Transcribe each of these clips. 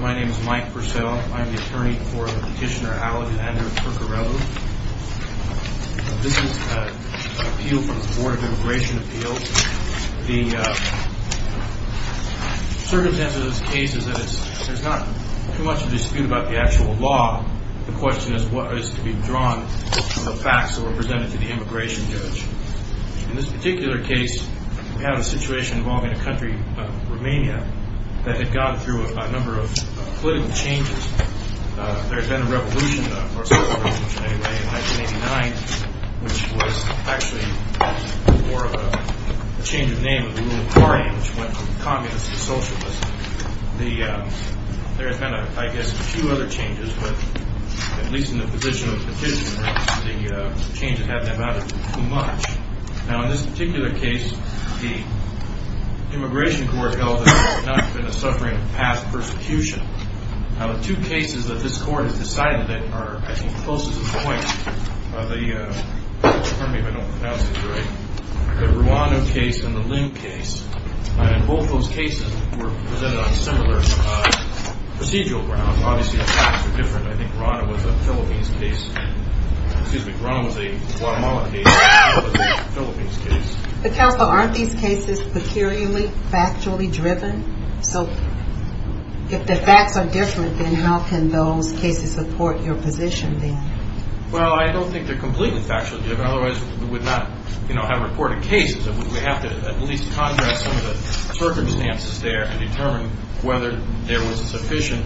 My name is Mike Purcell. I'm the attorney for Petitioner Alexander Purcarelu. This is an appeal from the Board of Immigration Appeals. The circumstance of this case is that there's not too much to dispute about the actual law. The question is what is to be drawn from the immigration judge. In this particular case, we have a situation involving a country, Romania, that had gone through a number of political changes. There had been a revolution in 1989, which was actually more of a change of name of the ruling party, which went from communists to socialists. There had been, I guess, two other changes, but at least in the position of Petitioner, the change had not mattered too much. Now, in this particular case, the Immigration Court held that there had not been a suffering of past persecution. Now, the two cases that this Court has decided that are, I think, closest in point, the Rwanda case and the Lim case, and both those cases were presented on similar procedural grounds. Obviously, the facts are different. I think Rwanda was a Philippines case. Excuse me. Rwanda was a Guatemala case, and Rwanda was a Philippines case. The counsel, aren't these cases peculiarly, factually driven? So, if the facts are different, then how can those cases support your position then? Well, I don't think they're completely factually driven. Otherwise, we would not, you know, have reported cases. We have to at least contrast some of the circumstances there and determine whether there was sufficient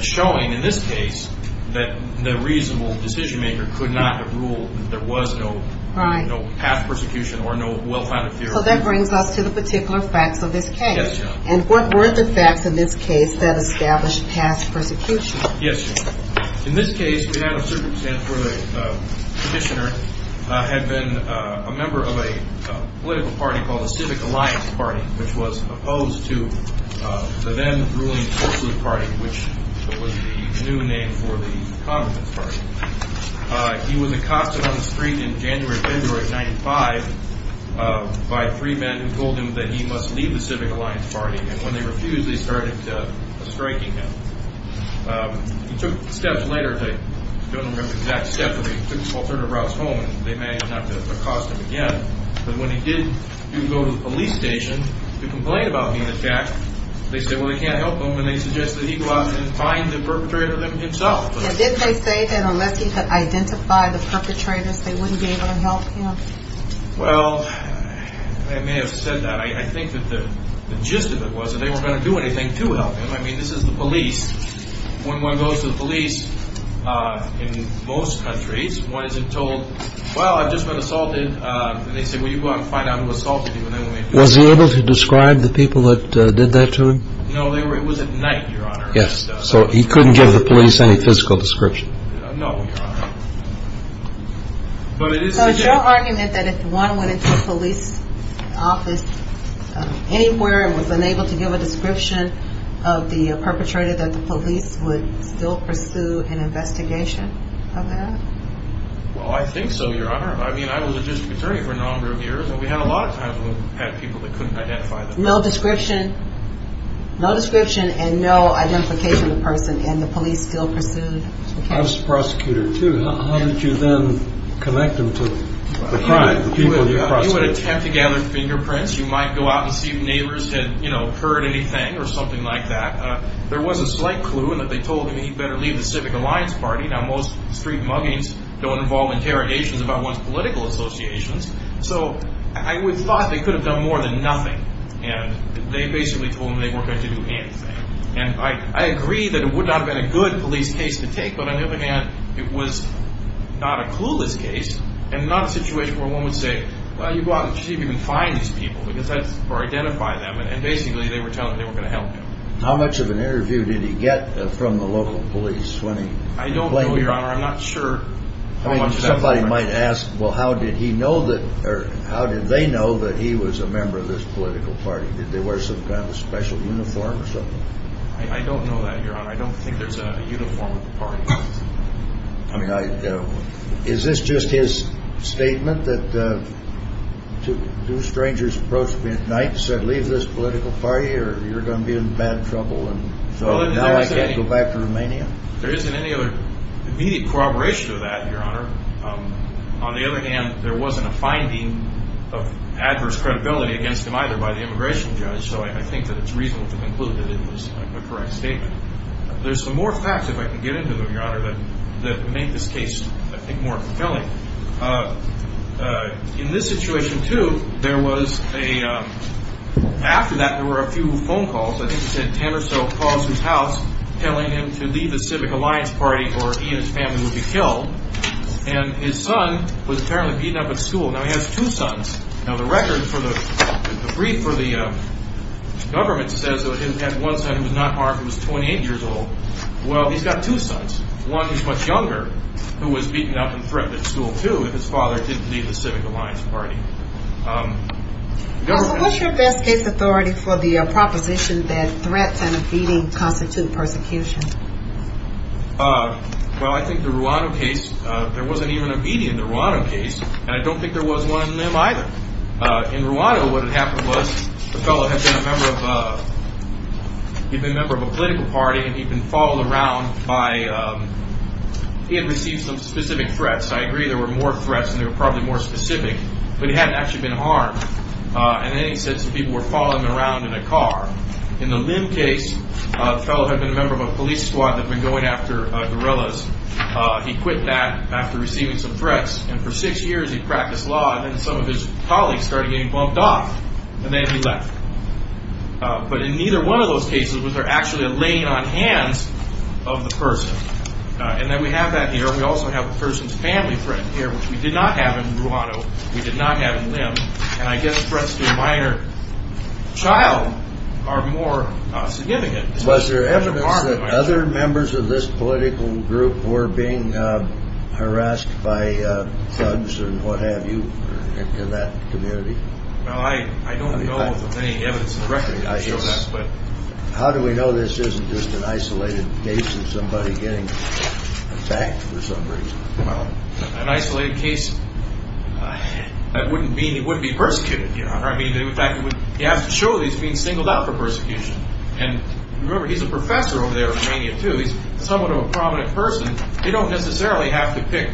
showing, in this case, that the reasonable decision-maker could not have ruled that there was no past persecution or no well-founded theory. So, that brings us to the particular facts of this case. Yes, Your Honor. And what were the facts in this case that established past persecution? Yes, Your Honor. In this case, we had a circumstance where the Petitioner had been a member of a political party called the Civic Alliance Party, which was opposed to the then-ruling Fort Sleuth Party, which was the new name for the Congress Party. He was accosted on the street in January or February of 1995 by three men who told him that he must leave the Civic Alliance Party, and when they refused, they started striking him. He took steps later, I don't remember the exact steps, but he took alternative routes home, and they managed not to accost him again. But when he did go to the police station to complain about being attacked, they said, well, they can't help him, and they suggested he go out and find the perpetrator himself. Did they say that unless he could identify the perpetrators, they wouldn't be able to help him? Well, they may have said that. I think that the gist of it was that they weren't going to do anything to help him. I mean, this is the police. When one goes to the police in most countries, one isn't told, well, I've just been assaulted, and they say, well, you go out and find out who assaulted you. Was he able to describe the people that did that to him? No, it was at night, Your Honor. Yes, so he couldn't give the police any physical description. No, Your Honor. So is your argument that if one went into a police office anywhere and was unable to give a description of the perpetrator, that the police would still pursue an investigation of that? Well, I think so, Your Honor. I mean, I was a district attorney for a number of years, and we had a lot of times when we had people that couldn't identify them. No description? No description and no identification of the person, and the police still pursued? I was a prosecutor, too. How did you then connect them to the crime, the people you prosecuted? Well, one would attempt to gather fingerprints. You might go out and see if neighbors had, you know, heard anything or something like that. There was a slight clue that they told him he better leave the Civic Alliance Party. Now, most street muggings don't involve interrogations about one's political associations. So I thought they could have done more than nothing, and they basically told him they weren't going to do anything. And I agree that it would not have been a good police case to take, but on the other hand, it was not a clueless case and not a situation where one would say, well, you go out and see if you can find these people or identify them, and basically they were telling him they weren't going to help him. How much of an interview did he get from the local police when he complained? I don't know, Your Honor. I'm not sure how much of that he got. Somebody might ask, well, how did he know that, or how did they know that he was a member of this political party? Did they wear some kind of special uniform or something? I don't know that, Your Honor. I don't think there's a uniform at the party. I mean, is this just his statement that two strangers approached me at night and said, leave this political party or you're going to be in bad trouble, and so now I can't go back to Romania? There isn't any other immediate corroboration of that, Your Honor. On the other hand, there wasn't a finding of adverse credibility against him either by the immigration judge, so I think that it's reasonable to conclude that it was a correct statement. There's some more facts, if I can get into them, Your Honor, that make this case, I think, more fulfilling. In this situation, too, there was a – after that, there were a few phone calls. I think he said ten or so calls to his house telling him to leave the Civic Alliance Party or he and his family would be killed. And his son was apparently beaten up at school. Now, he has two sons. Now, the record for the – the brief for the government says that he had one son who was not armed who was 28 years old. Well, he's got two sons, one who's much younger who was beaten up and threatened at school, too, and his father didn't leave the Civic Alliance Party. What's your best case authority for the proposition that threats and beating constitute persecution? Well, I think the Rwanda case, there wasn't even a beating in the Rwanda case, and I don't think there was one in Lim either. In Rwanda, what had happened was the fellow had been a member of – he'd been a member of a political party, and he'd been followed around by – he had received some specific threats. I agree there were more threats, and they were probably more specific, but he hadn't actually been harmed. And then he said some people were following him around in a car. In the Lim case, the fellow had been a member of a police squad that had been going after guerrillas. He quit that after receiving some threats, and for six years he practiced law, and then some of his colleagues started getting bumped off, and then he left. But in neither one of those cases was there actually a laying on hands of the person. And then we have that here, and we also have the person's family friend here, which we did not have in Rwanda. We did not have in Lim, and I guess threats to a minor child are more significant. Was there evidence that other members of this political group were being harassed by thugs and what have you in that community? Well, I don't know of any evidence directly to show that. How do we know this isn't just an isolated case of somebody getting attacked for some reason? An isolated case? That wouldn't mean he would be persecuted, Your Honor. In fact, he has to show that he's being singled out for persecution. And remember, he's a professor over there in Romania too. He's somewhat of a prominent person. They don't necessarily have to pick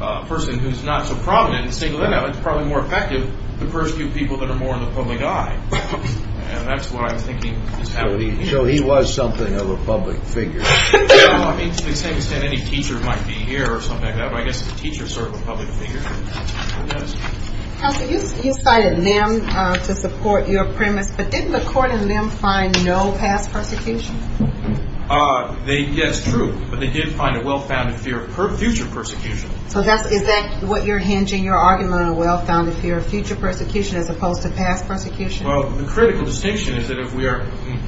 a person who's not so prominent and single them out. It's probably more effective to persecute people that are more in the public eye, and that's what I'm thinking is happening here. So he was something of a public figure. Well, I mean, to the same extent any teacher might be here or something like that, but I guess the teacher is sort of a public figure. Counselor, you cited Lim to support your premise, but didn't the court in Lim find no past persecution? Yes, true, but they did find a well-founded fear of future persecution. So is that what you're hinging, your argument, a well-founded fear of future persecution as opposed to past persecution? Well, the critical distinction is that if we are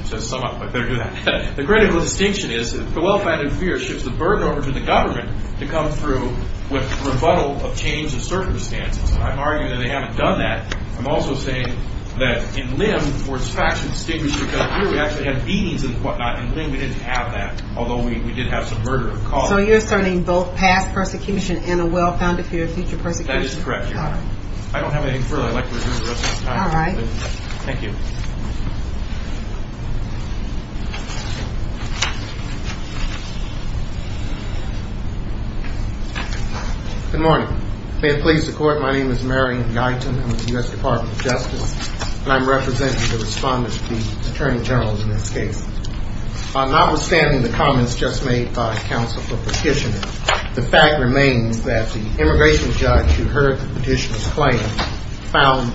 to sum up, I better do that. The critical distinction is the well-founded fear shifts the burden over to the government to come through with rebuttal of change of circumstances. I'm arguing that they haven't done that. I'm also saying that in Lim where it's factually distinguished because here we actually have beatings and whatnot. In Lim we didn't have that, although we did have some murder of cause. So you're asserting both past persecution and a well-founded fear of future persecution? That is correct, Your Honor. I don't have anything further. I'd like to resume the rest of the time. All right. Thank you. Good morning. May it please the Court, my name is Marion Guyton. I'm with the U.S. Department of Justice, and I'm representing the respondents to the attorney general in this case. Notwithstanding the comments just made by counsel for petitioner, the fact remains that the immigration judge who heard the petitioner's claim found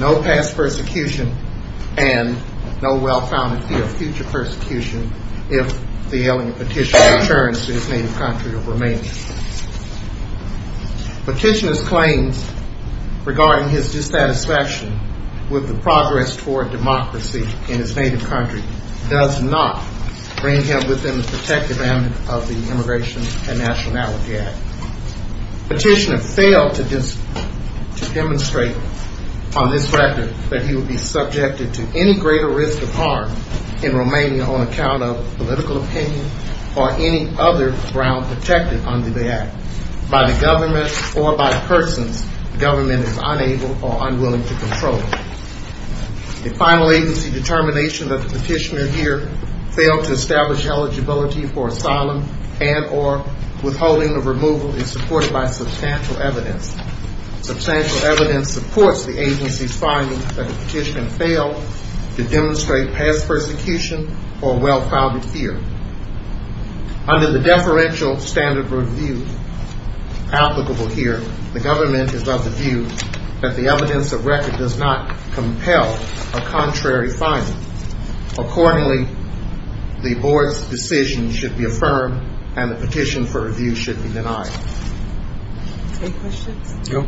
no past persecution and no well-founded fear of future persecution Petitioner's claims regarding his dissatisfaction with the progress toward democracy in his native country does not bring him within the protective end of the Immigration and Nationality Act. Petitioner failed to demonstrate on this record that he would be subjected to any greater risk of harm in Romania on account of political opinion or any other ground protected under the act. By the government or by persons the government is unable or unwilling to control. The final agency determination that the petitioner here failed to establish eligibility for asylum and or withholding of removal is supported by substantial evidence. Substantial evidence supports the agency's finding that the petitioner failed to demonstrate past persecution or well-founded fear. Under the deferential standard review applicable here, the government is of the view that the evidence of record does not compel a contrary finding. Accordingly, the board's decision should be affirmed and the petition for review should be denied. Any questions? No.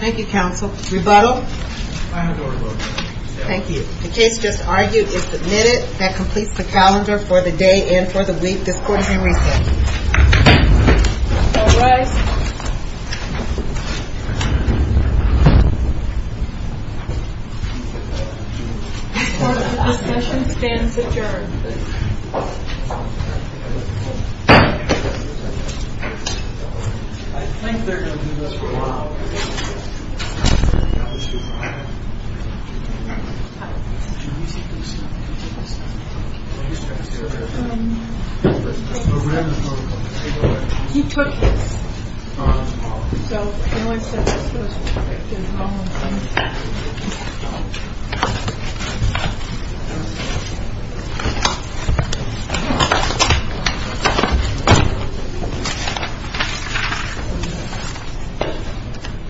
Thank you, counsel. Rebuttal? I have a rebuttal. Thank you. The case just argued is submitted. That completes the calendar for the day and for the week. This court is in recess. All rise. This part of the session stands adjourned. I think they're going to do this for a while. He took this. So, you know, I said this was perfect. There's one more thing. Thank you.